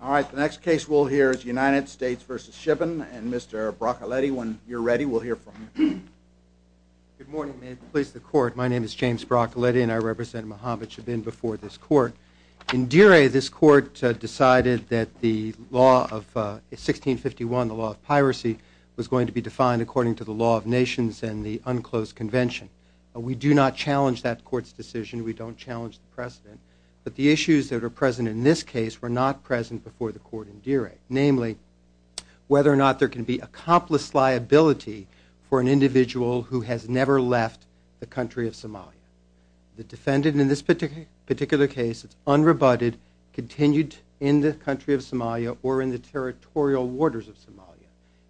All right, the next case we'll hear is United States v. Shibin and Mr. Broccoletti, when you're ready we'll hear from you. Good morning, may it please the court. My name is James Broccoletti and I represent Mohammad Shibin before this court. In Deere, this court decided that the law of 1651, the law of piracy, was going to be defined according to the law of nations and the unclosed convention. We do not challenge that court's decision, we don't challenge the precedent, but the issues that are present in this case were not present before the court in Deere, namely whether or not there can be accomplice liability for an individual who has never left the country of Somalia. The defendant in this particular case is unrebutted, continued in the country of Somalia or in the territorial waters of Somalia.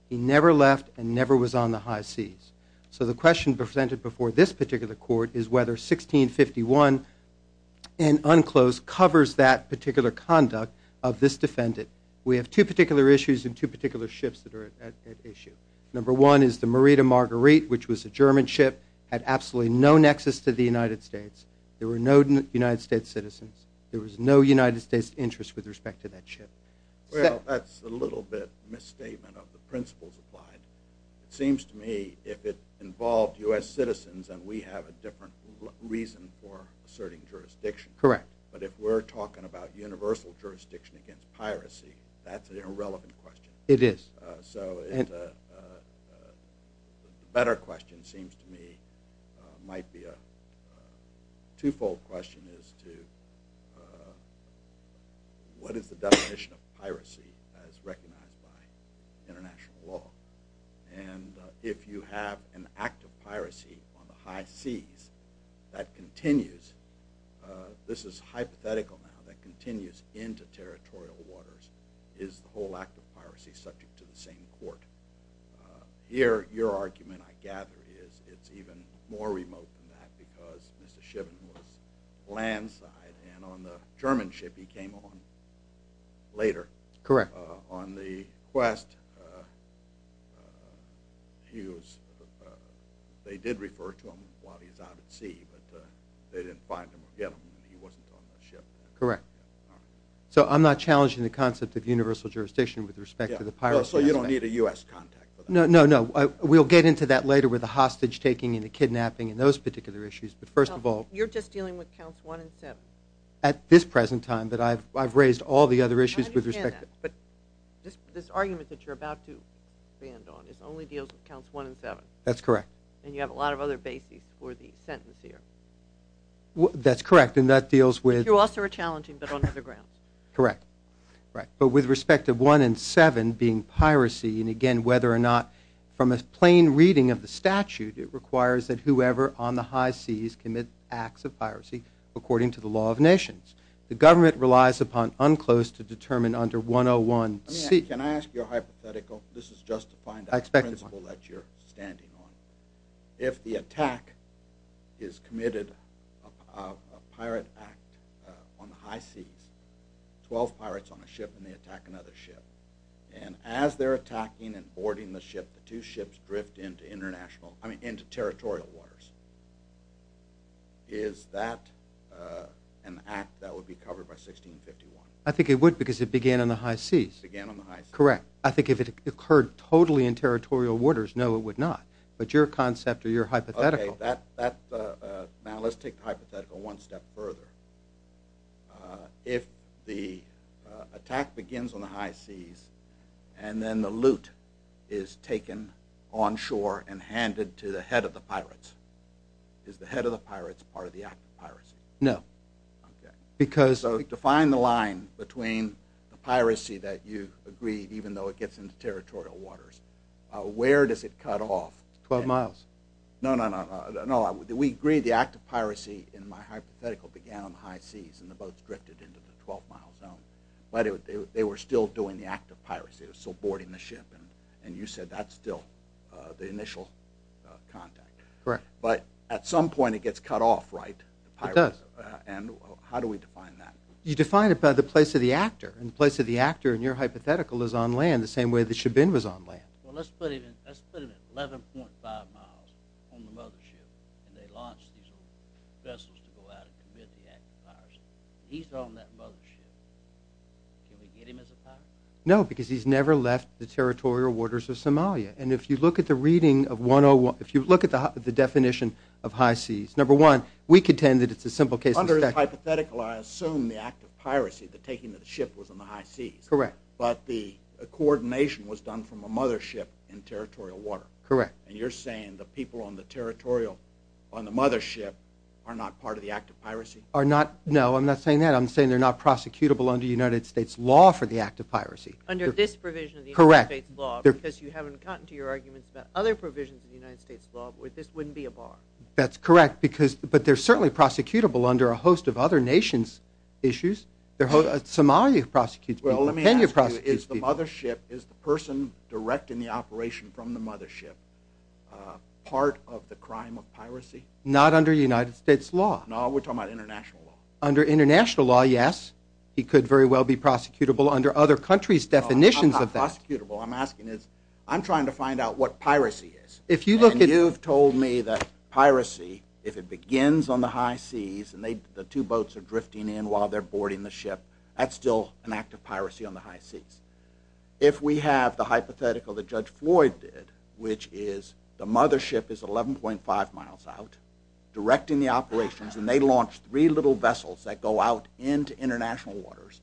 He never left and never was on the high seas. So the question presented before this particular court is whether 1651 and unclosed covers that particular conduct of this defendant. We have two particular issues and two particular ships that are at issue. Number one is the Merida Marguerite, which was a German ship, had absolutely no nexus to the United States. There were no United States citizens, there was no United States interest with respect to that ship. Well, that's a little bit misstatement of the principles applied. It seems to me if it involved U.S. citizens and we have a different reason for asserting jurisdiction. Correct. But if we're talking about universal jurisdiction against piracy, that's an irrelevant question. It is. So a better question seems to me might be a twofold question as to what is the definition of piracy as recognized by international law. And if you have an act of piracy on the high seas that continues, this is hypothetical now, that continues into territorial waters is the whole act of piracy subject to the same court. Here your argument I gather is it's even more remote than that because Mr. Shiven was land side and on the German ship he came on later. Correct. On the quest he was, they did refer to him while he was out at sea, but they didn't find him or get him. He wasn't on that ship. Correct. So I'm not challenging the concept of universal jurisdiction with respect to the piracy aspect. So you don't need a U.S. contact for that? No, no, no. We'll get into that later with the hostage taking and the kidnapping and those particular issues, but first of all. You're just dealing with counts 1 and 7. At this present time, but I've raised all the other issues with respect to. I understand that, but this argument that you're about to land on only deals with counts 1 and 7. That's correct. And you have a lot of other bases for the sentence here. That's correct and that deals with. You're also a challenging bit on other grounds. Correct. But with respect to 1 and 7 being piracy and again whether or not from a plain reading of the statute it requires that whoever on the high seas commit acts of piracy according to the law of nations. The government relies upon unclosed to determine under 101 C. Can I ask you a hypothetical? This is just to find out the principle that you're standing on. If the attack is committed, a pirate act on the high seas, 12 pirates on a ship and they attack another ship. And as they're attacking and boarding the ship, the two ships drift into international, I mean into territorial waters. Is that an act that would be covered by 1651? I think it would because it began on the high seas. Correct. I think if it occurred totally in territorial waters, no it would not. But your concept or your hypothetical. Okay, now let's take the hypothetical one step further. If the attack begins on the high seas and then the loot is taken on shore and handed to the head of the pirates. Is the head of the pirates part of the act of piracy? No. Okay. So define the line between the piracy that you agreed even though it gets into territorial waters. Where does it cut off? 12 miles. No, no, no. We agree the act of piracy in my hypothetical began on the high seas and the boats drifted into the 12 mile zone. But they were still doing the act of piracy. They were still boarding the ship and you said that's still the initial contact. Correct. But at some point it gets cut off, right? It does. And how do we define that? You define it by the place of the actor. And the place of the actor in your hypothetical is on land the same way that Shabin was on land. Well, let's put him at 11.5 miles on the mothership and they launch these vessels to go out and commit the act of piracy. He's on that mothership. Can we get him as a pirate? No, because he's never left the territorial waters of Somalia. And if you look at the reading of 101, if you look at the definition of high seas, number one, we contend that it's a simple case of... In your hypothetical, I assume the act of piracy, the taking of the ship, was on the high seas. Correct. But the coordination was done from a mothership in territorial water. Correct. And you're saying the people on the territorial, on the mothership, are not part of the act of piracy? No, I'm not saying that. I'm saying they're not prosecutable under United States law for the act of piracy. Under this provision of the United States law, because you haven't gotten to your arguments about other provisions of the United States law where this wouldn't be a bar. That's correct, but they're certainly prosecutable under a host of other nations' issues. Somalia prosecutes people, Kenya prosecutes people. Well, let me ask you, is the person directing the operation from the mothership part of the crime of piracy? Not under United States law. No, we're talking about international law. Under international law, yes, he could very well be prosecutable under other countries' definitions of that. No, I'm not prosecutable. I'm asking is, I'm trying to find out what piracy is. And you've told me that piracy, if it begins on the high seas and the two boats are drifting in while they're boarding the ship, that's still an act of piracy on the high seas. If we have the hypothetical that Judge Floyd did, which is the mothership is 11.5 miles out, directing the operations, and they launch three little vessels that go out into international waters,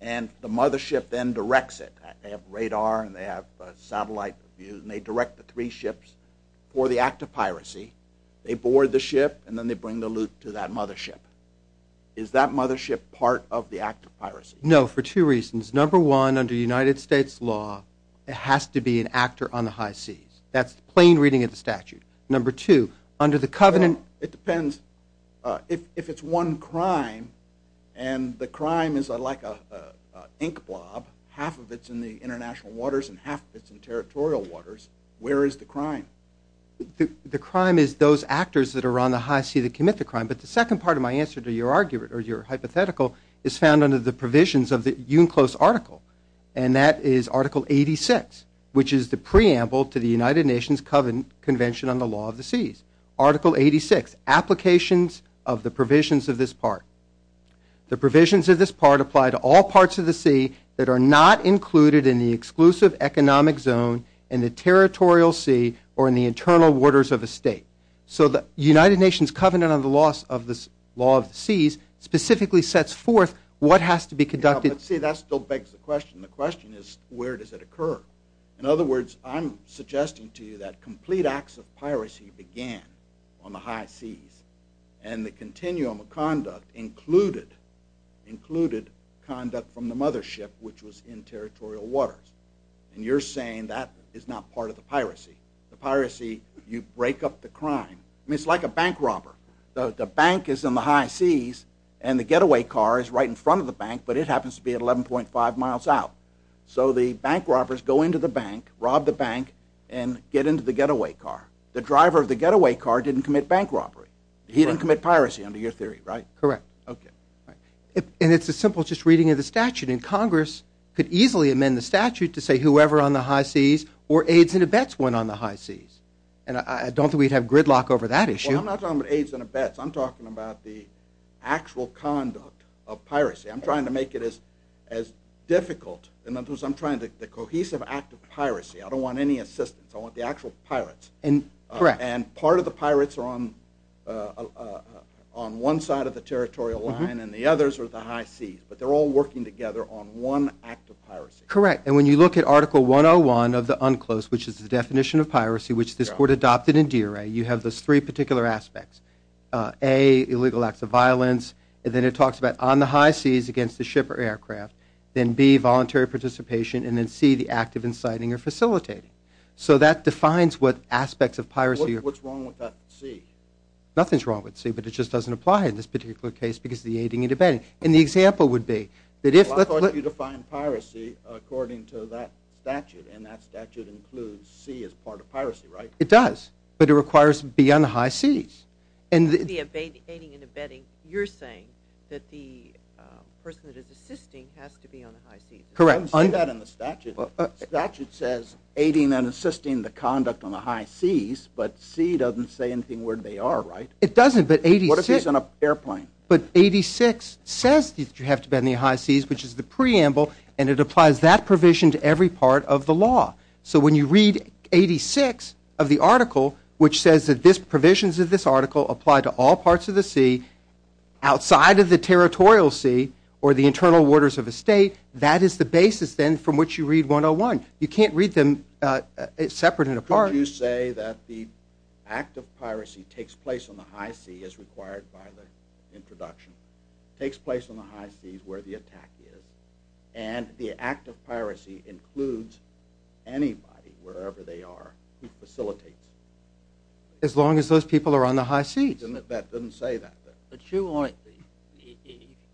and the mothership then directs it. They have radar, and they have satellite view, and they direct the three ships for the act of piracy. They board the ship, and then they bring the loot to that mothership. Is that mothership part of the act of piracy? No, for two reasons. Number one, under United States law, it has to be an actor on the high seas. That's the plain reading of the statute. Number two, under the covenant. It depends. If it's one crime, and the crime is like an ink blob, half of it's in the international waters, and half of it's in territorial waters, where is the crime? The crime is those actors that are on the high sea that commit the crime, but the second part of my answer to your hypothetical is found under the provisions of the UNCLOS article, and that is Article 86, which is the preamble to the United Nations Convention on the Law of the Seas. Article 86, applications of the provisions of this part. The provisions of this part apply to all parts of the sea that are not included in the exclusive economic zone in the territorial sea or in the internal waters of a state. So the United Nations Covenant on the Law of the Seas specifically sets forth what has to be conducted. See, that still begs the question. The question is where does it occur? In other words, I'm suggesting to you that complete acts of piracy began on the high seas, and the continuum of conduct included conduct from the mothership, which was in territorial waters. And you're saying that is not part of the piracy. The piracy, you break up the crime. It's like a bank robber. The bank is in the high seas, and the getaway car is right in front of the bank, but it happens to be at 11.5 miles out. So the bank robbers go into the bank, rob the bank, and get into the getaway car. The driver of the getaway car didn't commit bank robbery. He didn't commit piracy under your theory, right? Correct. Okay. And it's a simple just reading of the statute, and Congress could easily amend the statute to say whoever on the high seas or aides and abets went on the high seas. And I don't think we'd have gridlock over that issue. Well, I'm not talking about aides and abets. I'm talking about the actual conduct of piracy. I'm trying to make it as difficult. In other words, I'm trying to – the cohesive act of piracy. I don't want any assistance. I want the actual pirates. Correct. And part of the pirates are on one side of the territorial line, and the others are at the high seas. But they're all working together on one act of piracy. Correct. And when you look at Article 101 of the UNCLOS, which is the definition of piracy, which this Court adopted in DRA, you have those three particular aspects. A, illegal acts of violence. And then it talks about on the high seas against the ship or aircraft. Then B, voluntary participation. And then C, the act of inciting or facilitating. So that defines what aspects of piracy – What's wrong with that C? Nothing's wrong with C, but it just doesn't apply in this particular case because of the aiding and abetting. And the example would be that if – Well, I thought you defined piracy according to that statute, and that statute includes C as part of piracy, right? It does, but it requires B on the high seas. The aiding and abetting, you're saying that the person that is assisting has to be on the high seas. Correct. I don't see that in the statute. The statute says aiding and assisting the conduct on the high seas, but C doesn't say anything where they are, right? It doesn't, but 86 – What if he's on an airplane? But 86 says that you have to be on the high seas, which is the preamble, and it applies that provision to every part of the law. So when you read 86 of the article, which says that these provisions of this article apply to all parts of the sea outside of the territorial sea or the internal waters of a state, that is the basis then from which you read 101. You can't read them separate and apart. Could you say that the act of piracy takes place on the high sea as required by the introduction, takes place on the high seas where the attack is, and the act of piracy includes anybody, wherever they are, who facilitates it? As long as those people are on the high seas. But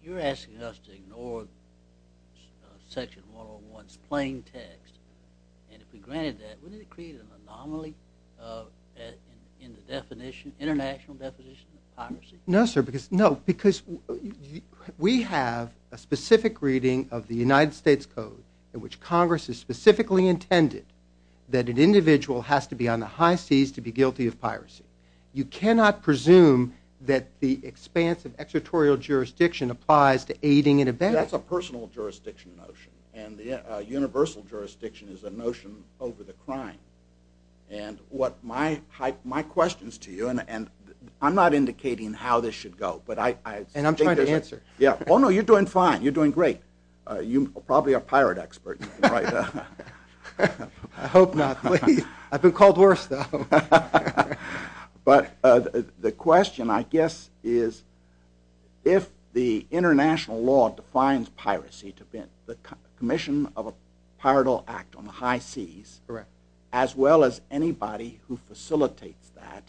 you're asking us to ignore section 101's plain text, and if we granted that, wouldn't it create an anomaly in the international definition of piracy? No, sir, because we have a specific reading of the United States Code in which Congress has specifically intended that an individual has to be on the high seas to be guilty of piracy. You cannot presume that the expanse of extraterritorial jurisdiction applies to aiding and abetting. That's a personal jurisdiction notion, and universal jurisdiction is a notion over the crime. And what my questions to you, and I'm not indicating how this should go. And I'm trying to answer. Oh, no, you're doing fine. You're doing great. You're probably a pirate expert. I hope not. I've been called worse, though. But the question, I guess, is if the international law defines piracy to have been the commission of a piratal act on the high seas, as well as anybody who facilitates that.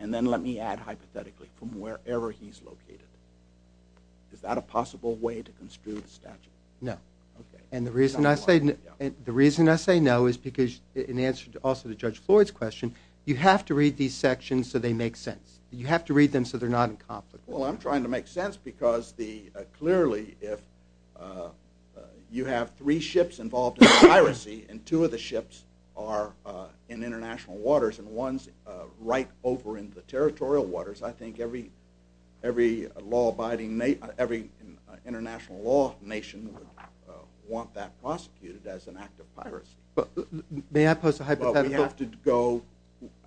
And then let me add, hypothetically, from wherever he's located. Is that a possible way to construe the statute? No. And the reason I say no is because, in answer also to Judge Floyd's question, you have to read these sections so they make sense. You have to read them so they're not in conflict. Well, I'm trying to make sense, because clearly, if you have three ships involved in piracy, and two of the ships are in international waters, and one's right over in the territorial waters, I think every law-abiding, every international law nation would want that prosecuted as an act of piracy. May I pose a hypothetical? Well, we have to go,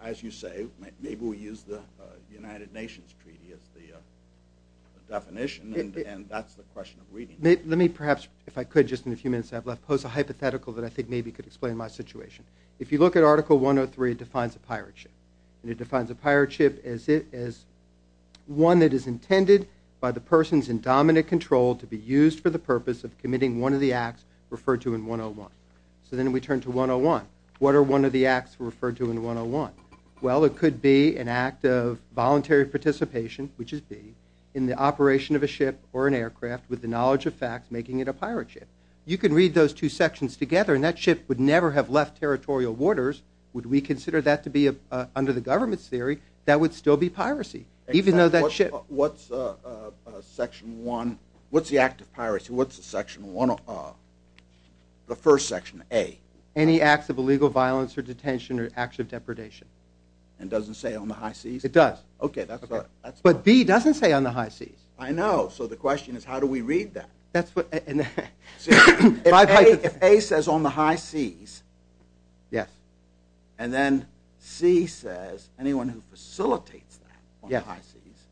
as you say, maybe we use the United Nations Treaty as the definition. And that's the question of reading. Let me, perhaps, if I could, just in a few minutes that I have left, pose a hypothetical that I think maybe could explain my situation. If you look at Article 103, it defines a pirate ship. And it defines a pirate ship as one that is intended by the persons in dominant control to be used for the purpose of committing one of the acts referred to in 101. So then we turn to 101. What are one of the acts referred to in 101? Well, it could be an act of voluntary participation, which is B, in the operation of a ship or an aircraft with the knowledge of facts making it a pirate ship. You can read those two sections together, and that ship would never have left territorial waters. Would we consider that to be, under the government's theory, that would still be piracy, even though that ship… What's the act of piracy? What's the first section, A? Any acts of illegal violence or detention or acts of depredation. And doesn't say on the high Cs? It does. Okay, that's fine. But B doesn't say on the high Cs. I know. So the question is, how do we read that? If A says on the high Cs, and then C says anyone who facilitates that on the high Cs,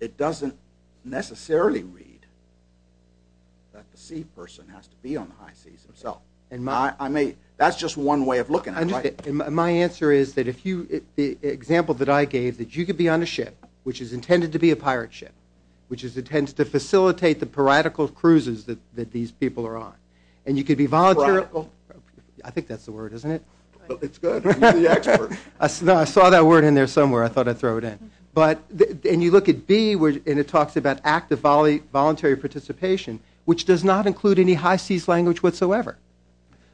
it doesn't necessarily read that the C person has to be on the high Cs himself. That's just one way of looking at it. My answer is that if you – the example that I gave, that you could be on a ship, which is intended to be a pirate ship, which is intended to facilitate the piratical cruises that these people are on, and you could be voluntarily – Piratical? I think that's the word, isn't it? It's good. You're the expert. I saw that word in there somewhere. I thought I'd throw it in. And you look at B, and it talks about act of voluntary participation, which does not include any high Cs language whatsoever.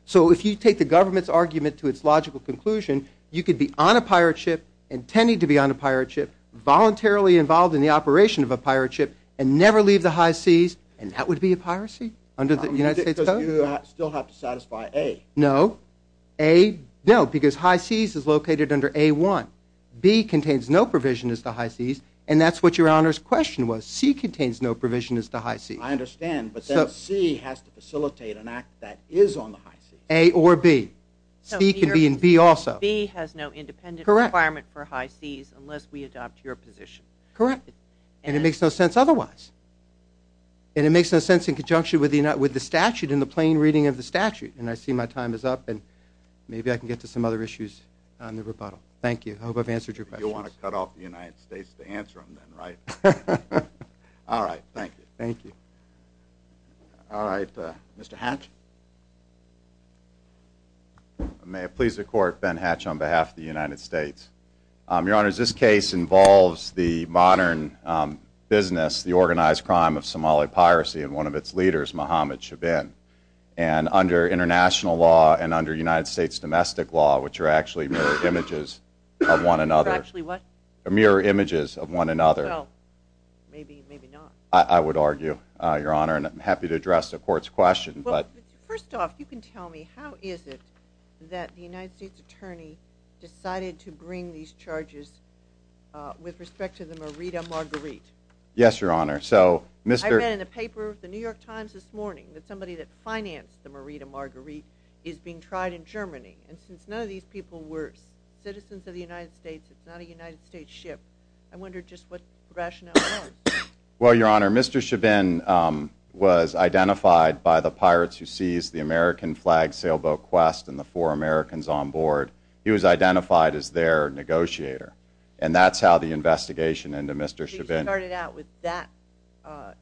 So if you take the government's argument to its logical conclusion, you could be on a pirate ship, intended to be on a pirate ship, voluntarily involved in the operation of a pirate ship, and never leave the high Cs, and that would be a piracy under the United States Code? Because you still have to satisfy A. No. A, no, because high Cs is located under A-1. B contains no provision as to high Cs, and that's what Your Honor's question was. C contains no provision as to high Cs. I understand, but then C has to facilitate an act that is on the high Cs. A or B. C can be in B also. B has no independent requirement for high Cs unless we adopt your position. Correct. And it makes no sense otherwise. And it makes no sense in conjunction with the statute and the plain reading of the statute. And I see my time is up, and maybe I can get to some other issues on the rebuttal. Thank you. I hope I've answered your questions. You want to cut off the United States to answer them, then, right? All right. Thank you. Thank you. All right. Mr. Hatch? May it please the Court, Ben Hatch on behalf of the United States. Your Honor, this case involves the modern business, the organized crime of Somali piracy, and one of its leaders, Mohammed Chabin. And under international law and under United States domestic law, which are actually mirror images of one another. Are actually what? Mirror images of one another. Maybe, maybe not. I would argue, Your Honor, and I'm happy to address the Court's question. First off, you can tell me, how is it that the United States attorney decided to bring these charges with respect to the Merida Marguerite? Yes, Your Honor. I read in the paper, the New York Times this morning, that somebody that financed the Merida Marguerite is being tried in Germany. And since none of these people were citizens of the United States, it's not a United States ship, I wonder just what the rationale was. Well, Your Honor, Mr. Chabin was identified by the pirates who seized the American flag sailboat, Quest, and the four Americans on board. He was identified as their negotiator. And that's how the investigation into Mr. Chabin. So you started out with that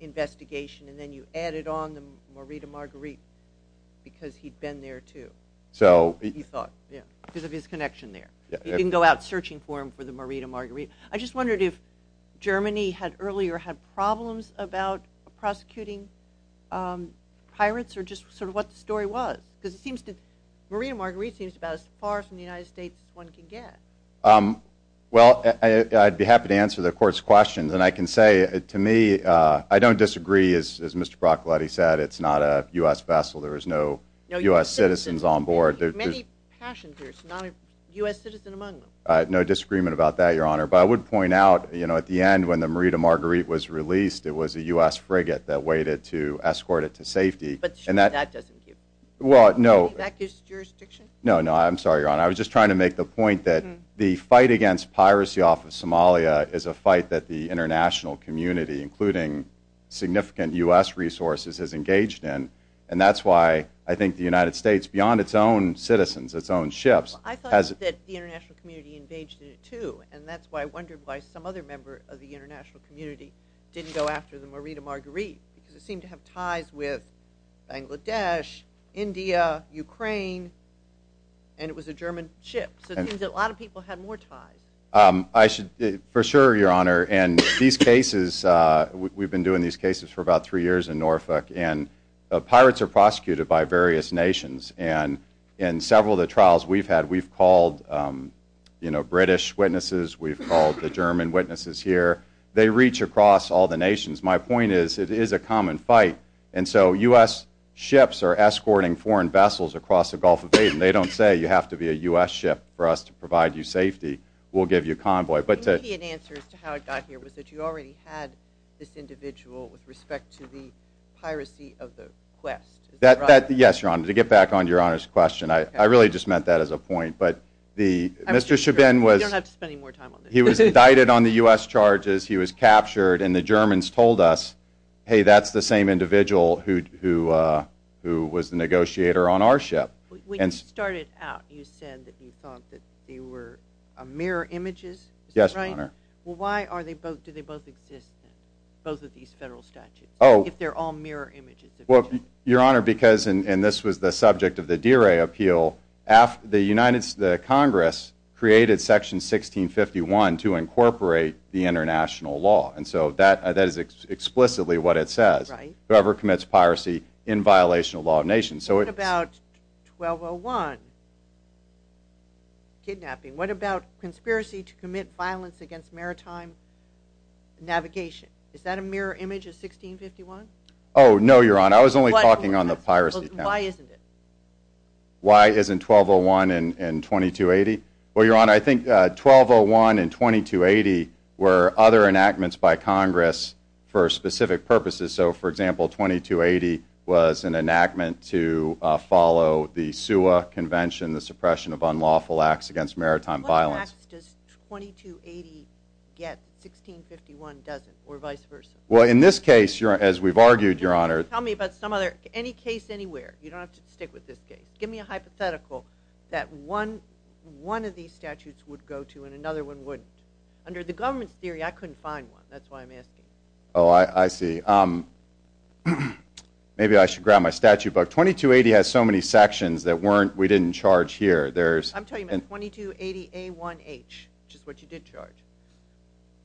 investigation, and then you added on the Merida Marguerite, because he'd been there, too, he thought, because of his connection there. He didn't go out searching for him for the Merida Marguerite. I just wondered if Germany earlier had problems about prosecuting pirates, or just sort of what the story was. Because the Merida Marguerite seems about as far from the United States as one can get. Well, I'd be happy to answer the Court's questions. And I can say, to me, I don't disagree, as Mr. Broccoletti said. It's not a U.S. vessel. There is no U.S. citizens on board. Many passengers, not a U.S. citizen among them. No disagreement about that, Your Honor. But I would point out, you know, at the end, when the Merida Marguerite was released, it was a U.S. frigate that waited to escort it to safety. But that doesn't give any back to its jurisdiction? No, no, I'm sorry, Your Honor. I was just trying to make the point that the fight against piracy off of Somalia is a fight that the international community, including significant U.S. resources, is engaged in, and that's why I think the United States, beyond its own citizens, its own ships, has... I thought that the international community engaged in it, too, and that's why I wondered why some other member of the international community didn't go after the Merida Marguerite, because it seemed to have ties with Bangladesh, India, Ukraine, and it was a German ship. So it seems that a lot of people had more ties. For sure, Your Honor. And these cases, we've been doing these cases for about three years in Norfolk, and pirates are prosecuted by various nations. And in several of the trials we've had, we've called British witnesses, we've called the German witnesses here. They reach across all the nations. My point is it is a common fight. And so U.S. ships are escorting foreign vessels across the Gulf of Aden. They don't say you have to be a U.S. ship for us to provide you safety. We'll give you a convoy. The immediate answer as to how it got here was that you already had this individual with respect to the piracy of the quest. Yes, Your Honor. To get back on Your Honor's question, I really just meant that as a point. But Mr. Chabin was indicted on the U.S. charges. He was captured, and the Germans told us, hey, that's the same individual who was the negotiator on our ship. When you started out, you said that you thought that they were mirror images. Yes, Your Honor. Well, why do they both exist, both of these federal statutes, if they're all mirror images? Well, Your Honor, because, and this was the subject of the DRA appeal, the Congress created Section 1651 to incorporate the international law. And so that is explicitly what it says, whoever commits piracy in violation of the law of the nation. What about 1201, kidnapping? What about conspiracy to commit violence against maritime navigation? Is that a mirror image of 1651? Oh, no, Your Honor. I was only talking on the piracy count. Why isn't it? Why isn't 1201 and 2280? Well, Your Honor, I think 1201 and 2280 were other enactments by Congress for specific purposes. So, for example, 2280 was an enactment to follow the SUA convention, the suppression of unlawful acts against maritime violence. What acts does 2280 get, 1651 doesn't, or vice versa? Well, in this case, as we've argued, Your Honor. Tell me about some other, any case anywhere. You don't have to stick with this case. Give me a hypothetical that one of these statutes would go to and another one wouldn't. Under the government's theory, I couldn't find one. That's why I'm asking. Oh, I see. Maybe I should grab my statute book. 2280 has so many sections that we didn't charge here. I'm talking about 2280A1H, which is what you did charge.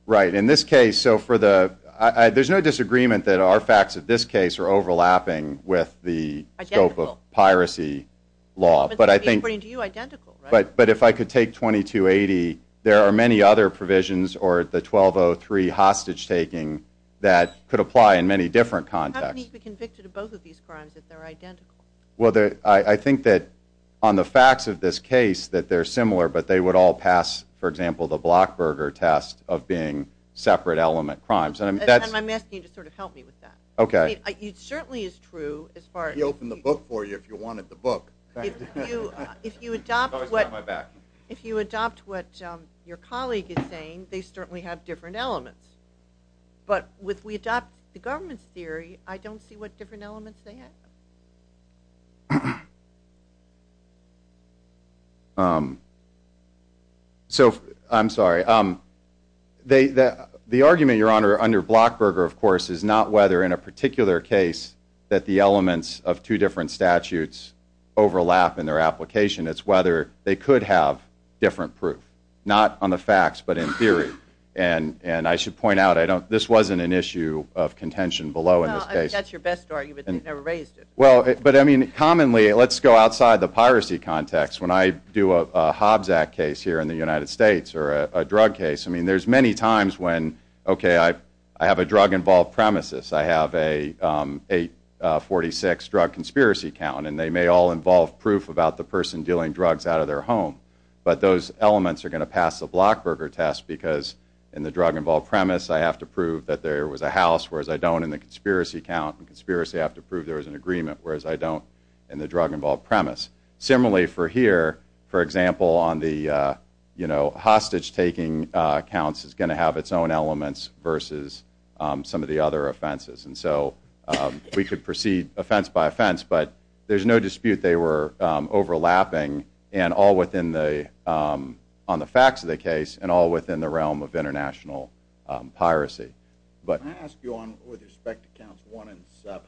Right. In this case, there's no disagreement that our facts of this case are overlapping with the scope of piracy law. But if I could take 2280, there are many other provisions or the 1203 hostage-taking that could apply in many different contexts. How can he be convicted of both of these crimes if they're identical? Well, I think that on the facts of this case that they're similar, but they would all pass, for example, the Blockberger test of being separate element crimes. I'm asking you to sort of help me with that. Okay. It certainly is true as far as… He opened the book for you if you wanted the book. If you adopt what your colleague is saying, they certainly have different elements. But if we adopt the government's theory, I don't see what different elements they have. I'm sorry. The argument, Your Honor, under Blockberger, of course, is not whether in a particular case that the elements of two different statutes overlap in their application. It's whether they could have different proof, not on the facts but in theory. I should point out this wasn't an issue of contention below in this case. That's your best argument. They never raised it. Commonly, let's go outside the piracy context. When I do a Hobbs Act case here in the United States or a drug case, there's many times when, okay, I have a drug-involved premises. I have a 846 drug conspiracy count, and they may all involve proof about the person dealing drugs out of their home. But those elements are going to pass the Blockberger test because in the drug-involved premise I have to prove that there was a house, whereas I don't in the conspiracy count. In conspiracy, I have to prove there was an agreement, whereas I don't in the drug-involved premise. Similarly for here, for example, on the hostage-taking counts, it's going to have its own elements versus some of the other offenses. So we could proceed offense by offense, but there's no dispute they were overlapping on the facts of the case and all within the realm of international piracy. Can I ask you, with respect to counts one and seven,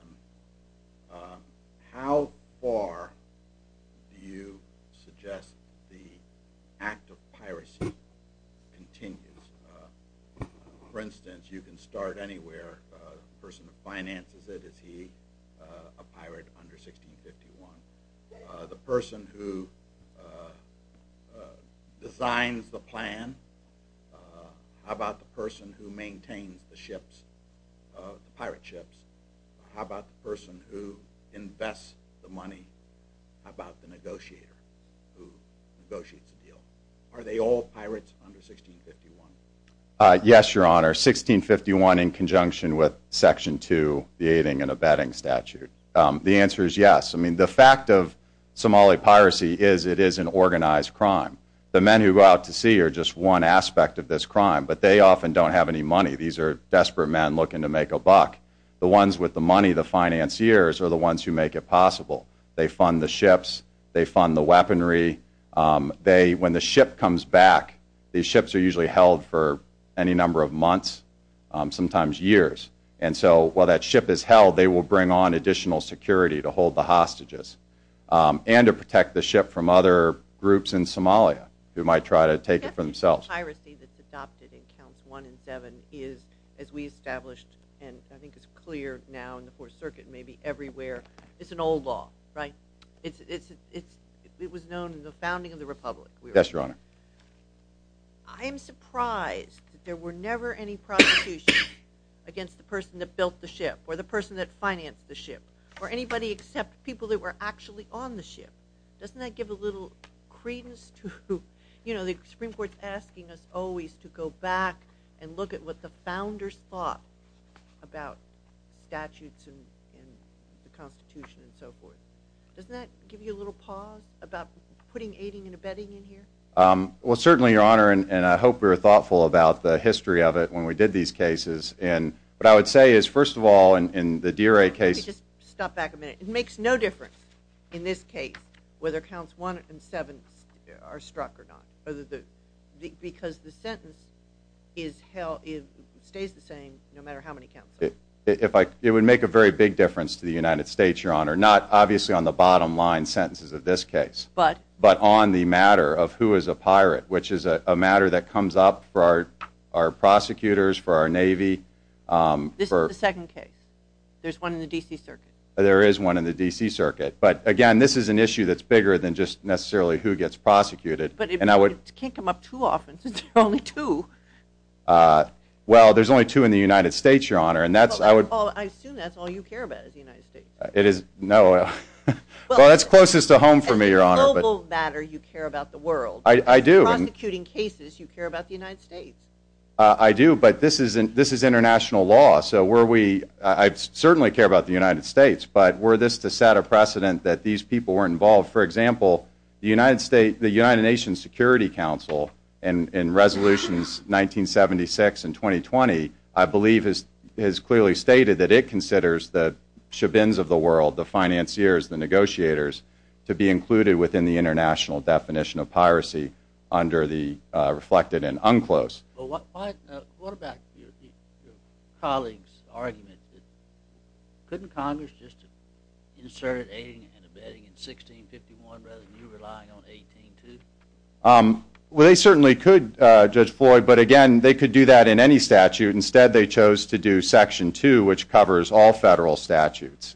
how far do you suggest the act of piracy continues? For instance, you can start anywhere. The person who finances it, is he a pirate under 1651? The person who designs the plan? How about the person who maintains the pirate ships? How about the person who invests the money? How about the negotiator who negotiates the deal? Are they all pirates under 1651? Yes, Your Honor, 1651 in conjunction with Section 2, the aiding and abetting statute. The answer is yes. I mean, the fact of Somali piracy is it is an organized crime. The men who go out to sea are just one aspect of this crime, but they often don't have any money. These are desperate men looking to make a buck. The ones with the money, the financiers, are the ones who make it possible. They fund the ships. They fund the weaponry. When the ship comes back, these ships are usually held for any number of months, sometimes years, and so while that ship is held, they will bring on additional security to hold the hostages and to protect the ship from other groups in Somalia who might try to take it for themselves. The piracy that's adopted in Counts 1 and 7 is, as we established and I think is clear now in the Fourth Circuit and maybe everywhere, it's an old law, right? It was known in the founding of the Republic. Yes, Your Honor. Or the person that financed the ship, or anybody except people that were actually on the ship. Doesn't that give a little credence to, you know, the Supreme Court's asking us always to go back and look at what the founders thought about statutes and the Constitution and so forth. Doesn't that give you a little pause about putting aiding and abetting in here? Well, certainly, Your Honor, and I hope we were thoughtful about the history of it when we did these cases. And what I would say is, first of all, in the DRA case Let me just stop back a minute. It makes no difference in this case whether Counts 1 and 7 are struck or not, because the sentence stays the same no matter how many counts. It would make a very big difference to the United States, Your Honor, not obviously on the bottom line sentences of this case, but on the matter of who is a pirate, which is a matter that comes up for our prosecutors, for our Navy. This is the second case. There's one in the D.C. Circuit. There is one in the D.C. Circuit. But, again, this is an issue that's bigger than just necessarily who gets prosecuted. But it can't come up too often since there are only two. Well, there's only two in the United States, Your Honor. I assume that's all you care about is the United States. No. Well, that's closest to home for me, Your Honor. As a global matter, you care about the world. I do. Prosecuting cases, you care about the United States. I do. But this is international law. So I certainly care about the United States. But were this to set a precedent that these people weren't involved, for example, the United Nations Security Council in Resolutions 1976 and 2020, I believe has clearly stated that it considers the shabins of the world, the financiers, the negotiators, to be included within the international definition of piracy under the reflected and unclosed. Well, what about your colleague's argument? Couldn't Congress just insert aiding and abetting in 1651 rather than you relying on 1802? Well, they certainly could, Judge Floyd. But, again, they could do that in any statute. Instead, they chose to do Section 2, which covers all federal statutes.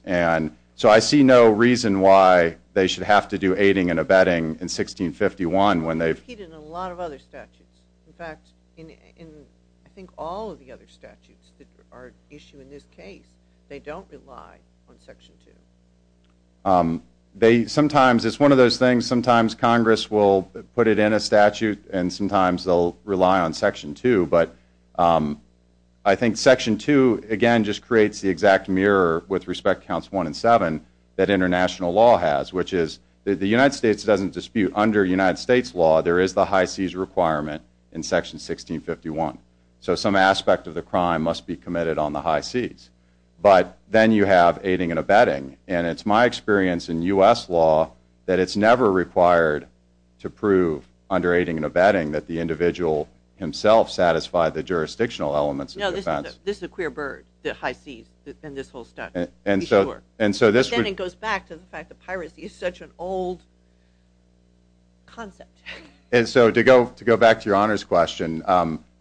So I see no reason why they should have to do aiding and abetting in 1651. It's repeated in a lot of other statutes. In fact, in I think all of the other statutes that are issued in this case, they don't rely on Section 2. Sometimes it's one of those things, sometimes Congress will put it in a statute and sometimes they'll rely on Section 2. But I think Section 2, again, just creates the exact mirror with respect to Counts 1 and 7 that international law has, which is the United States doesn't dispute. Under United States law, there is the high-seas requirement in Section 1651. So some aspect of the crime must be committed on the high seas. But then you have aiding and abetting. And it's my experience in U.S. law that it's never required to prove under aiding and abetting that the individual himself satisfied the jurisdictional elements of the offense. No, this is a queer bird, the high seas and this whole stuff. Be sure. But then it goes back to the fact that piracy is such an old concept. And so to go back to your honors question,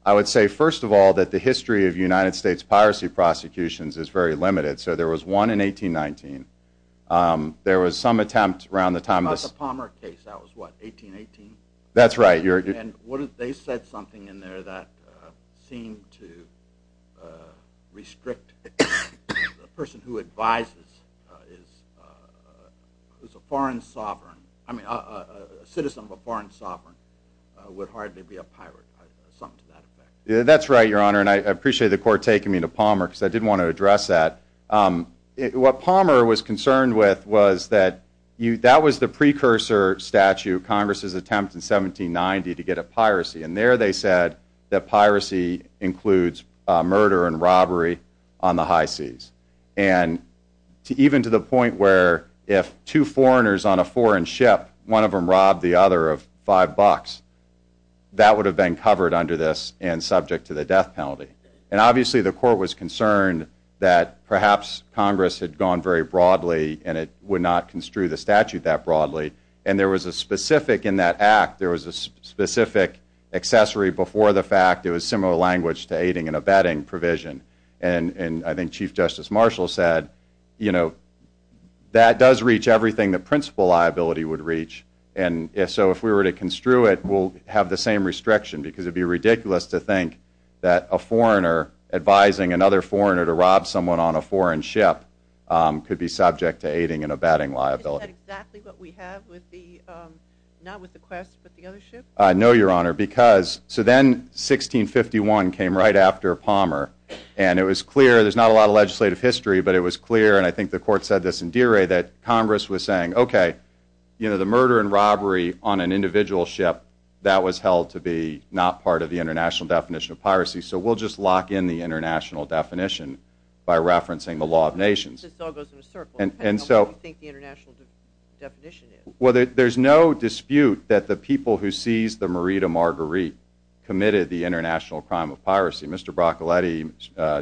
I would say, first of all, that the history of United States piracy prosecutions is very limited. So there was one in 1819. There was some attempt around the time of the Palmer case. That was what, 1818? That's right. And they said something in there that seemed to restrict the person who advises is a foreign sovereign. I mean, a citizen of a foreign sovereign would hardly be a pirate, something to that effect. That's right, your honor. And I appreciate the court taking me to Palmer because I did want to address that. What Palmer was concerned with was that that was the precursor statute, Congress's attempt in 1790 to get at piracy. And there they said that piracy includes murder and robbery on the high seas. And even to the point where if two foreigners on a foreign ship, one of them robbed the other of five bucks, that would have been covered under this and subject to the death penalty. And obviously the court was concerned that perhaps Congress had gone very broadly and it would not construe the statute that broadly. And there was a specific in that act, there was a specific accessory before the fact. It was similar language to aiding and abetting provision. And I think Chief Justice Marshall said, you know, that does reach everything the principal liability would reach. And so if we were to construe it, we'll have the same restriction because it would be ridiculous to think that a foreigner advising another foreigner to rob someone on a foreign ship could be subject to aiding and abetting liability. Is that exactly what we have with the, not with the quest, but the other ship? No, Your Honor, because, so then 1651 came right after Palmer. And it was clear, there's not a lot of legislative history, but it was clear, and I think the court said this in Deerey, that Congress was saying, okay, you know, the murder and robbery on an individual ship, that was held to be not part of the international definition of piracy, so we'll just lock in the international definition by referencing the law of nations. This all goes in a circle, depending on what you think the international definition is. Well, there's no dispute that the people who seized the Merida Marguerite committed the international crime of piracy. Mr. Broccoletti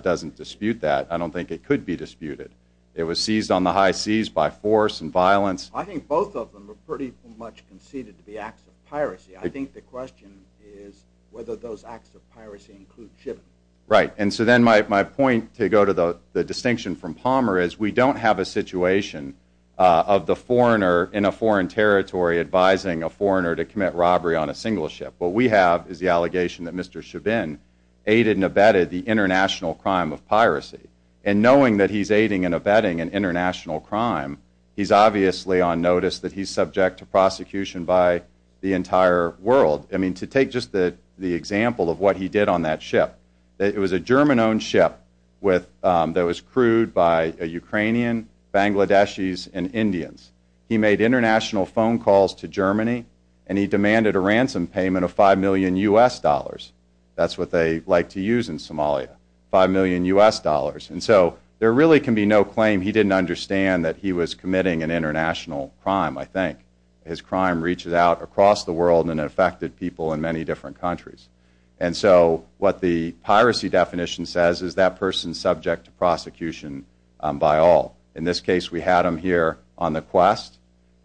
doesn't dispute that. I don't think it could be disputed. It was seized on the high seas by force and violence. I think both of them were pretty much conceded to be acts of piracy. I think the question is whether those acts of piracy include shipping. Right, and so then my point, to go to the distinction from Palmer, is we don't have a situation of the foreigner in a foreign territory advising a foreigner to commit robbery on a single ship. What we have is the allegation that Mr. Chabin aided and abetted the international crime of piracy. And knowing that he's aiding and abetting an international crime, he's obviously on notice that he's subject to prosecution by the entire world. I mean, to take just the example of what he did on that ship, it was a German-owned ship that was crewed by a Ukrainian, Bangladeshis, and Indians. He made international phone calls to Germany, and he demanded a ransom payment of $5 million U.S. dollars. That's what they like to use in Somalia, $5 million U.S. dollars. And so there really can be no claim he didn't understand that he was committing an international crime, I think. His crime reaches out across the world and affected people in many different countries. And so what the piracy definition says is that person's subject to prosecution by all. In this case, we had him here on the quest,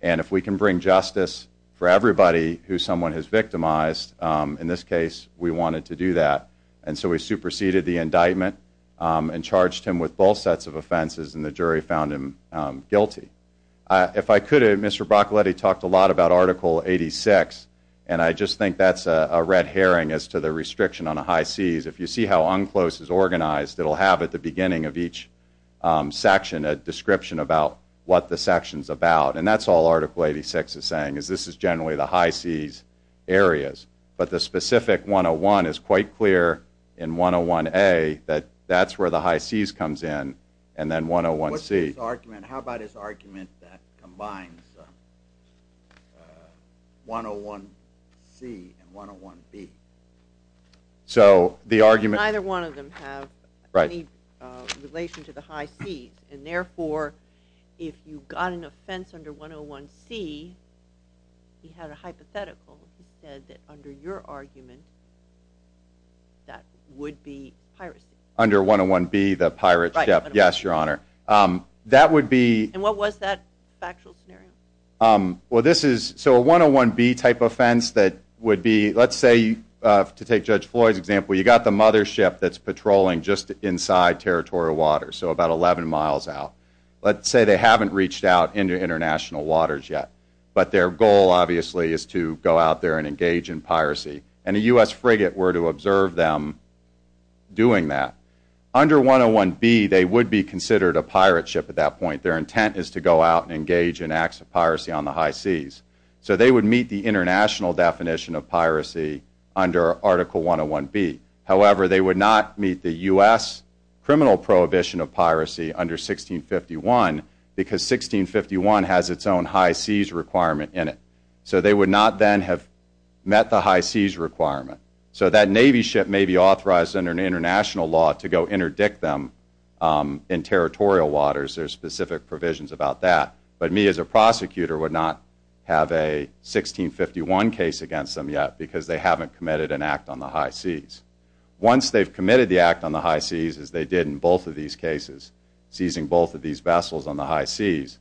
and if we can bring justice for everybody who someone has victimized, in this case, we wanted to do that. And so we superseded the indictment and charged him with both sets of offenses, and the jury found him guilty. If I could, Mr. Broccoletti talked a lot about Article 86, and I just think that's a red herring as to the restriction on the high Cs. If you see how UNCLOS is organized, it'll have at the beginning of each section a description about what the section's about. And that's all Article 86 is saying, is this is generally the high Cs areas. But the specific 101 is quite clear in 101A that that's where the high Cs comes in, and then 101C. How about his argument that combines 101C and 101B? Neither one of them have any relation to the high Cs, and therefore if you got an offense under 101C, he had a hypothetical. He said that under your argument, that would be piracy. Under 101B, the pirate ship, yes, Your Honor. And what was that factual scenario? So a 101B type offense that would be, let's say, to take Judge Floyd's example, you got the mother ship that's patrolling just inside territorial waters, so about 11 miles out. Let's say they haven't reached out into international waters yet, but their goal obviously is to go out there and engage in piracy. And a U.S. frigate were to observe them doing that. Under 101B, they would be considered a pirate ship at that point. Their intent is to go out and engage in acts of piracy on the high Cs. So they would meet the international definition of piracy under Article 101B. However, they would not meet the U.S. criminal prohibition of piracy under 1651 because 1651 has its own high Cs requirement in it. So they would not then have met the high Cs requirement. So that Navy ship may be authorized under international law to go interdict them in territorial waters. There are specific provisions about that. But me as a prosecutor would not have a 1651 case against them yet because they haven't committed an act on the high Cs. Once they've committed the act on the high Cs, as they did in both of these cases, seizing both of these vessels on the high Cs,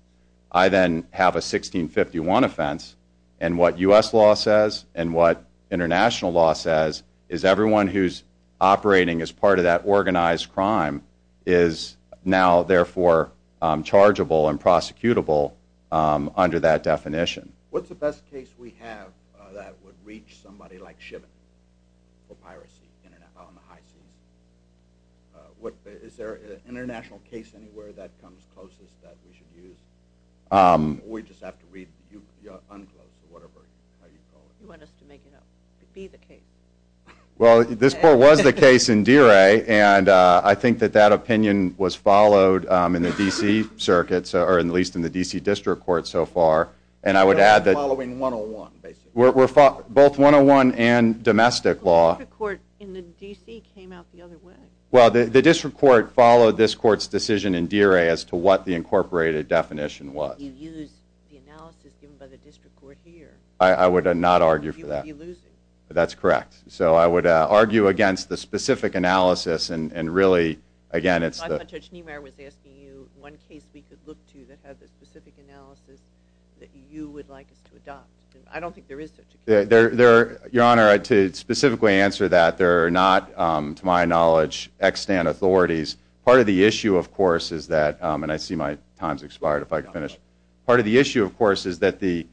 I then have a 1651 offense. And what U.S. law says and what international law says is everyone who's operating as part of that organized crime is now therefore chargeable and prosecutable under that definition. What's the best case we have that would reach somebody like Shiven for piracy on the high Cs? Is there an international case anywhere that comes closest that we should use? We just have to read the UNCLOS or whatever you call it. You want us to make it up. It could be the case. Well, this court was the case in Deere and I think that that opinion was followed in the D.C. circuits, or at least in the D.C. district court so far. And I would add that... Following 101, basically. Both 101 and domestic law. The district court in the D.C. came out the other way. Well, the district court followed this court's decision in Deere as to what the incorporated definition was. You used the analysis given by the district court here. I would not argue for that. You would be losing. That's correct. So I would argue against the specific analysis and really, again, it's the... Judge Niemeyer was asking you one case we could look to that had the specific analysis that you would like us to adopt. I don't think there is such a case. Your Honor, to specifically answer that, there are not, to my knowledge, extant authorities. Part of the issue, of course, is that... And I see my time's expired. If I could finish. Part of the issue, of course, is that the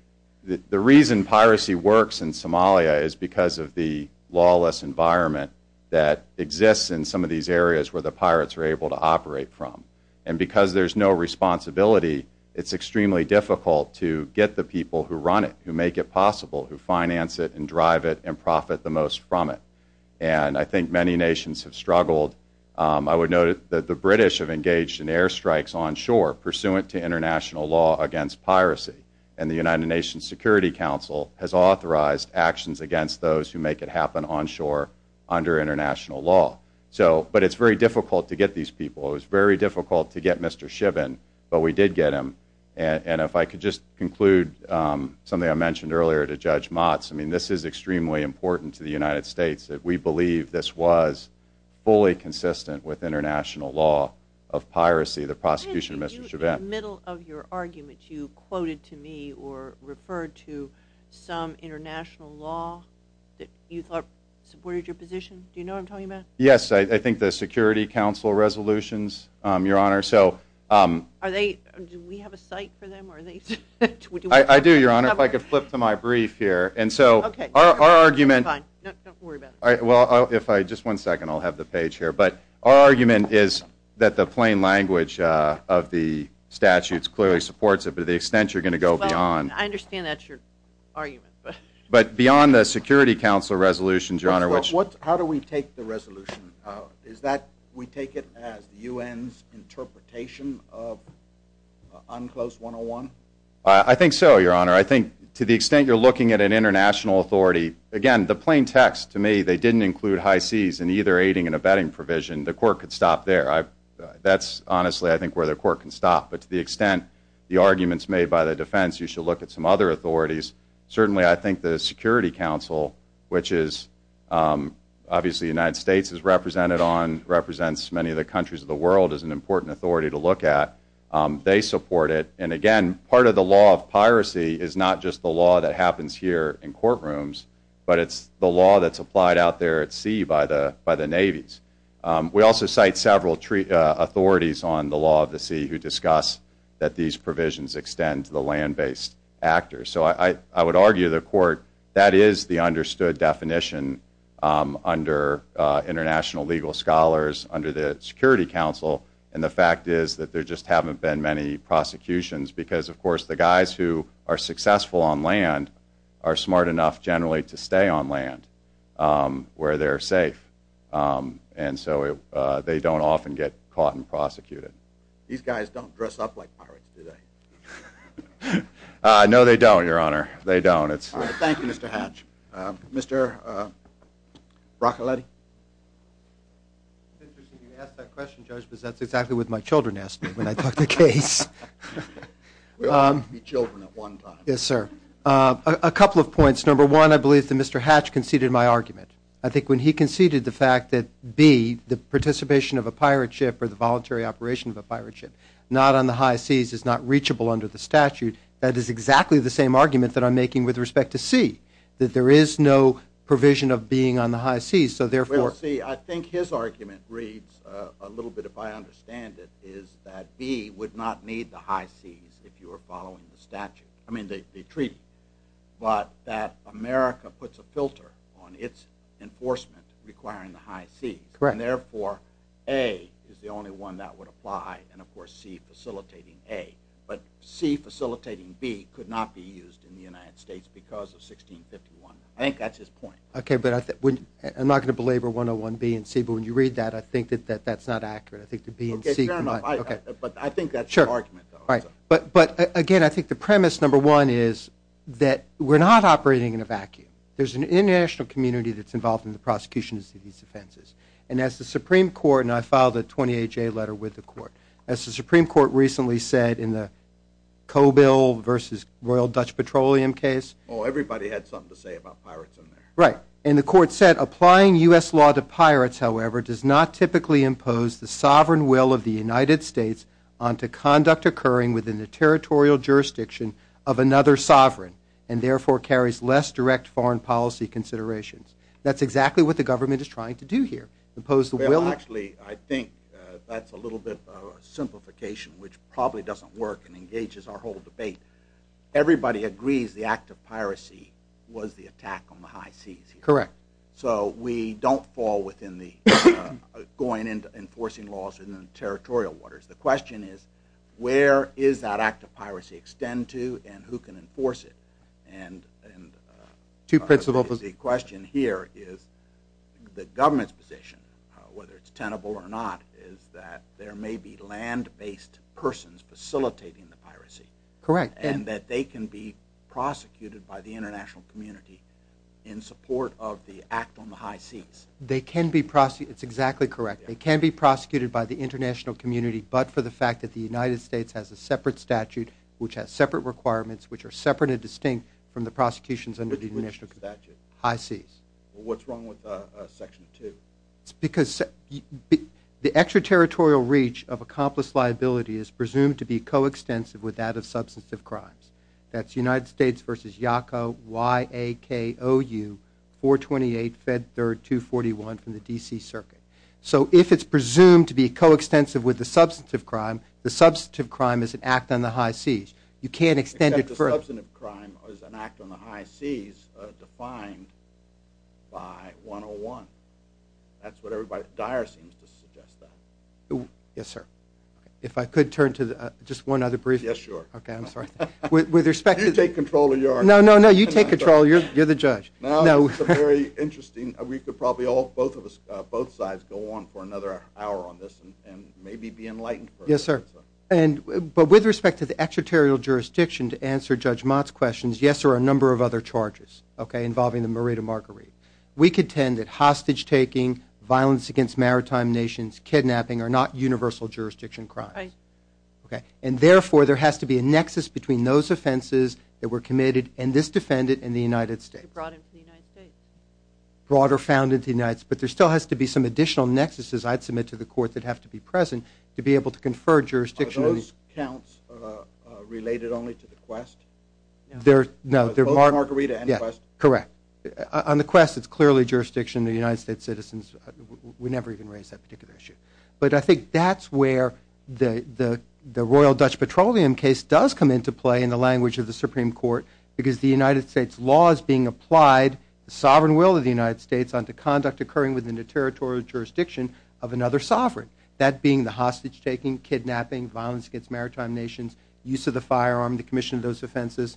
reason piracy works in Somalia is because of the lawless environment that exists in some of these areas where the pirates are able to operate from. And because there's no responsibility, it's extremely difficult to get the people who run it, who make it possible, who finance it and drive it and profit the most from it. And I think many nations have struggled. I would note that the British have engaged in airstrikes onshore pursuant to international law against piracy. And the United Nations Security Council has authorized actions against those who make it happen onshore under international law. But it's very difficult to get these people. It was very difficult to get Mr. Shibin, but we did get him. And if I could just conclude something I mentioned earlier to Judge Motz. I mean, this is extremely important to the United States that we believe this was fully consistent with international law of piracy. The prosecution of Mr. Shibin. In the middle of your argument, you quoted to me or referred to some international law that you thought supported your position. Do you know what I'm talking about? Yes, I think the Security Council resolutions, Your Honor. Do we have a cite for them? I do, Your Honor, if I could flip to my brief here. Okay. Don't worry about it. Just one second. I'll have the page here. But our argument is that the plain language of the statutes clearly supports it to the extent you're going to go beyond. I understand that's your argument. But beyond the Security Council resolutions, Your Honor. How do we take the resolution? Do we take it as the UN's interpretation of UNCLOS 101? I think so, Your Honor. I think to the extent you're looking at an international authority, again, the plain text to me, they didn't include high seas in either aiding and abetting provision. The court could stop there. That's honestly I think where the court can stop. But to the extent the arguments made by the defense, you should look at some other authorities. Certainly, I think the Security Council, which is obviously the United States is represented on, represents many of the countries of the world as an important authority to look at. They support it. And, again, part of the law of piracy is not just the law that happens here in courtrooms, but it's the law that's applied out there at sea by the navies. We also cite several authorities on the law of the sea who discuss that these provisions extend to the land-based actors. So I would argue to the court that is the understood definition under international legal scholars, under the Security Council. And the fact is that there just haven't been many prosecutions because, of course, the guys who are successful on land are smart enough, generally, to stay on land where they're safe. And so they don't often get caught and prosecuted. These guys don't dress up like pirates, do they? No, they don't, Your Honor. They don't. Thank you, Mr. Hatch. Mr. Broccoletti? It's interesting you ask that question, Judge, because that's exactly what my children asked me when I took the case. We all have to be children at one time. Yes, sir. A couple of points. Number one, I believe that Mr. Hatch conceded my argument. I think when he conceded the fact that, B, the participation of a pirate ship or the voluntary operation of a pirate ship not on the high seas is not reachable under the statute, that is exactly the same argument that I'm making with respect to C, that there is no provision of being on the high seas, so therefore. Well, see, I think his argument reads a little bit, if I understand it, is that B would not need the high seas if you were following the statute, I mean the treaty, but that America puts a filter on its enforcement requiring the high seas. Correct. And therefore, A is the only one that would apply and, of course, C facilitating A. But C facilitating B could not be used in the United States because of 1651. I think that's his point. Okay, but I'm not going to belabor 101B and C, but when you read that, I think that that's not accurate. I think the B and C combine. Okay, fair enough. But I think that's your argument, though. All right. But, again, I think the premise, number one, is that we're not operating in a vacuum. There's an international community that's involved in the prosecution of these offenses. And as the Supreme Court, and I filed a 28-J letter with the court, as the Supreme Court recently said in the Coe Bill versus Royal Dutch Petroleum case. Oh, everybody had something to say about pirates in there. Right. And the court said, Applying U.S. law to pirates, however, does not typically impose the sovereign will of the United States onto conduct occurring within the territorial jurisdiction of another sovereign and, therefore, carries less direct foreign policy considerations. That's exactly what the government is trying to do here, impose the will. Well, actually, I think that's a little bit of a simplification, which probably doesn't work and engages our whole debate. Everybody agrees the act of piracy was the attack on the high seas. Correct. So we don't fall within the going into enforcing laws in the territorial waters. The question is where is that act of piracy extend to and who can enforce it? And the question here is the government's position, whether it's tenable or not, is that there may be land-based persons facilitating the piracy. Correct. And that they can be prosecuted by the international community in support of the act on the high seas. They can be prosecuted. It's exactly correct. They can be prosecuted by the international community, but for the fact that the United States has a separate statute, which has separate requirements, which are separate and distinct from the prosecutions under the international community. Which statute? High seas. Well, what's wrong with Section 2? It's because the extraterritorial reach of accomplished liability is presumed to be coextensive with that of substantive crimes. That's United States v. YACA, Y-A-K-O-U, 428 Fed 3rd, 241 from the D.C. Circuit. So if it's presumed to be coextensive with the substantive crime, the substantive crime is an act on the high seas. You can't extend it further. The substantive crime is an act on the high seas defined by 101. That's what everybody, Dyer seems to suggest that. Yes, sir. If I could turn to just one other brief. Yes, sure. Okay, I'm sorry. You take control of your own. No, no, no. You take control. You're the judge. No, it's very interesting. We could probably both sides go on for another hour on this and maybe be enlightened. Yes, sir. But with respect to the extraterritorial jurisdiction, to answer Judge Mott's questions, yes, there are a number of other charges involving the Morita Marguerite. We contend that hostage-taking, violence against maritime nations, kidnapping are not universal jurisdiction crimes. And therefore, there has to be a nexus between those offenses that were committed and this defendant in the United States. Brought in from the United States. Brought or found in the United States, to be able to confer jurisdiction. Are those counts related only to the quest? No. Both Marguerite and the quest? Correct. On the quest, it's clearly jurisdiction of the United States citizens. We never even raised that particular issue. But I think that's where the Royal Dutch Petroleum case does come into play in the language of the Supreme Court because the United States law is being applied, the sovereign will of the United States, occurring within the territorial jurisdiction of another sovereign. That being the hostage-taking, kidnapping, violence against maritime nations, use of the firearm, the commission of those offenses.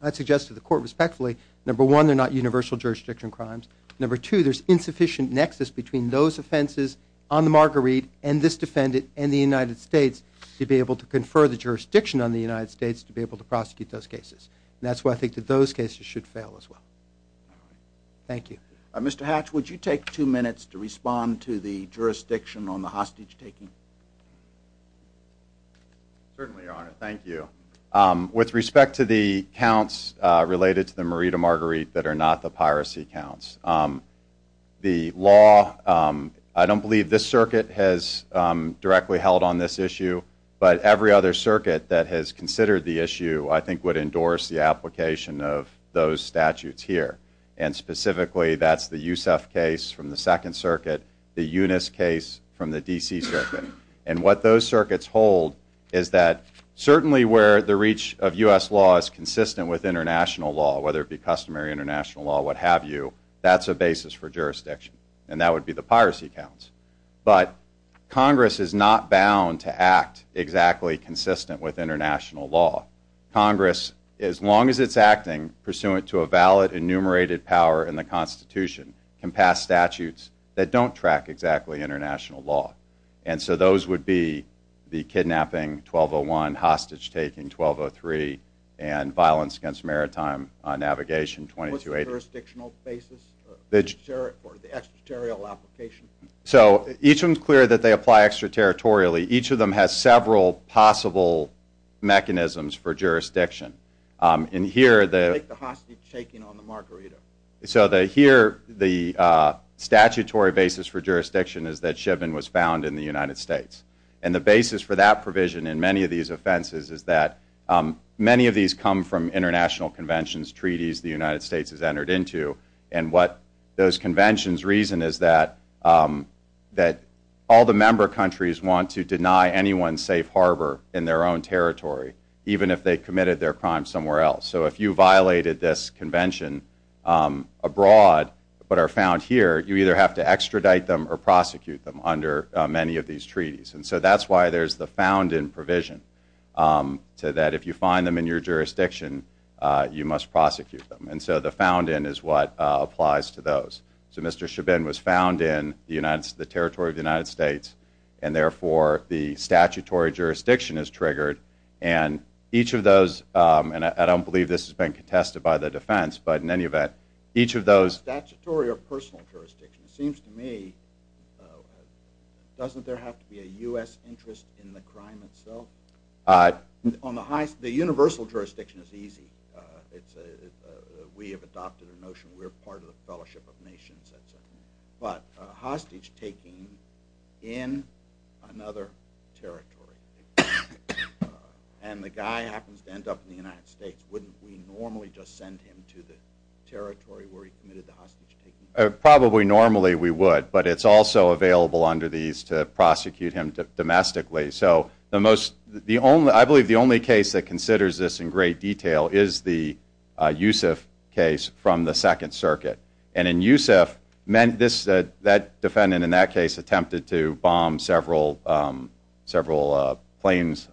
I'd suggest to the court respectfully, number one, they're not universal jurisdiction crimes. Number two, there's insufficient nexus between those offenses on the Marguerite and this defendant in the United States to be able to confer the jurisdiction on the United States to be able to prosecute those cases. And that's why I think that those cases should fail as well. Thank you. Mr. Hatch, would you take two minutes to respond to the jurisdiction on the hostage-taking? Certainly, Your Honor. Thank you. With respect to the counts related to the Merida Marguerite that are not the piracy counts, the law, I don't believe this circuit has directly held on this issue, but every other circuit that has considered the issue, I think would endorse the application of those statutes here. And specifically, that's the Yousef case from the Second Circuit, the Eunice case from the D.C. Circuit. And what those circuits hold is that certainly where the reach of U.S. law is consistent with international law, whether it be customary international law, what have you, that's a basis for jurisdiction. And that would be the piracy counts. But Congress is not bound to act exactly consistent with international law. Congress, as long as it's acting pursuant to a valid enumerated power in the Constitution, can pass statutes that don't track exactly international law. And so those would be the kidnapping, 1201, hostage-taking, 1203, and violence against maritime navigation, 2280. What's the jurisdictional basis for the extraterritorial application? So each one's clear that they apply extraterritorially. Each of them has several possible mechanisms for jurisdiction. And here the... Take the hostage-taking on the margarita. So here the statutory basis for jurisdiction is that Chivin was found in the United States. And the basis for that provision in many of these offenses is that many of these come from international conventions, treaties the United States has entered into. And what those conventions reason is that all the member countries want to deny anyone safe harbor in their own territory, even if they committed their crime somewhere else. So if you violated this convention abroad but are found here, you either have to extradite them or prosecute them under many of these treaties. And so that's why there's the found-in provision, so that if you find them in your jurisdiction, you must prosecute them. And so the found-in is what applies to those. So Mr. Chivin was found in the territory of the United States, and therefore the statutory jurisdiction is triggered. And each of those, and I don't believe this has been contested by the defense, but in any event, each of those... Statutory or personal jurisdiction? It seems to me, doesn't there have to be a U.S. interest in the crime itself? The universal jurisdiction is easy. We have adopted a notion, we're part of the fellowship of nations, et cetera. But hostage-taking in another territory, and the guy happens to end up in the United States, wouldn't we normally just send him to the territory where he committed the hostage-taking? Probably normally we would, but it's also available under these to prosecute him domestically. So I believe the only case that considers this in great detail is the Yusuf case from the Second Circuit. And in Yusuf, that defendant in that case attempted to bomb several planes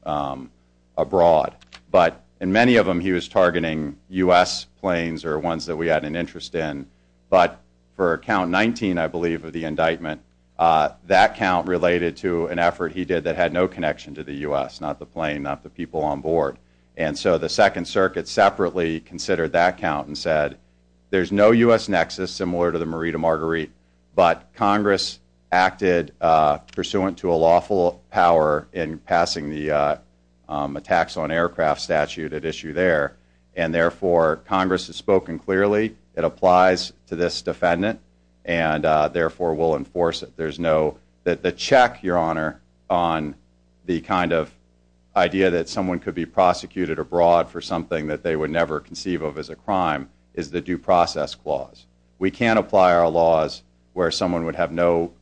abroad. But in many of them he was targeting U.S. planes or ones that we had an interest in. But for count 19, I believe, of the indictment, that count related to an effort he did that had no connection to the U.S., not the plane, not the people on board. And so the Second Circuit separately considered that count and said, there's no U.S. nexus similar to the Marita Marguerite, but Congress acted pursuant to a lawful power in passing the attacks on aircraft statute at issue there, and therefore Congress has spoken clearly, it applies to this defendant, and therefore will enforce it. The check, Your Honor, on the kind of idea that someone could be prosecuted abroad for something that they would never conceive of as a crime is the due process clause. We can't apply our laws where someone would have no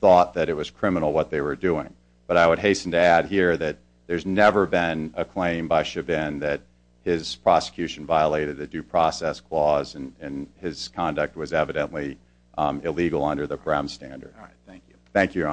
thought that it was criminal what they were doing. But I would hasten to add here that there's never been a claim by Chabin that his prosecution violated the due process clause and his conduct was evidently illegal under the crime standard. Thank you.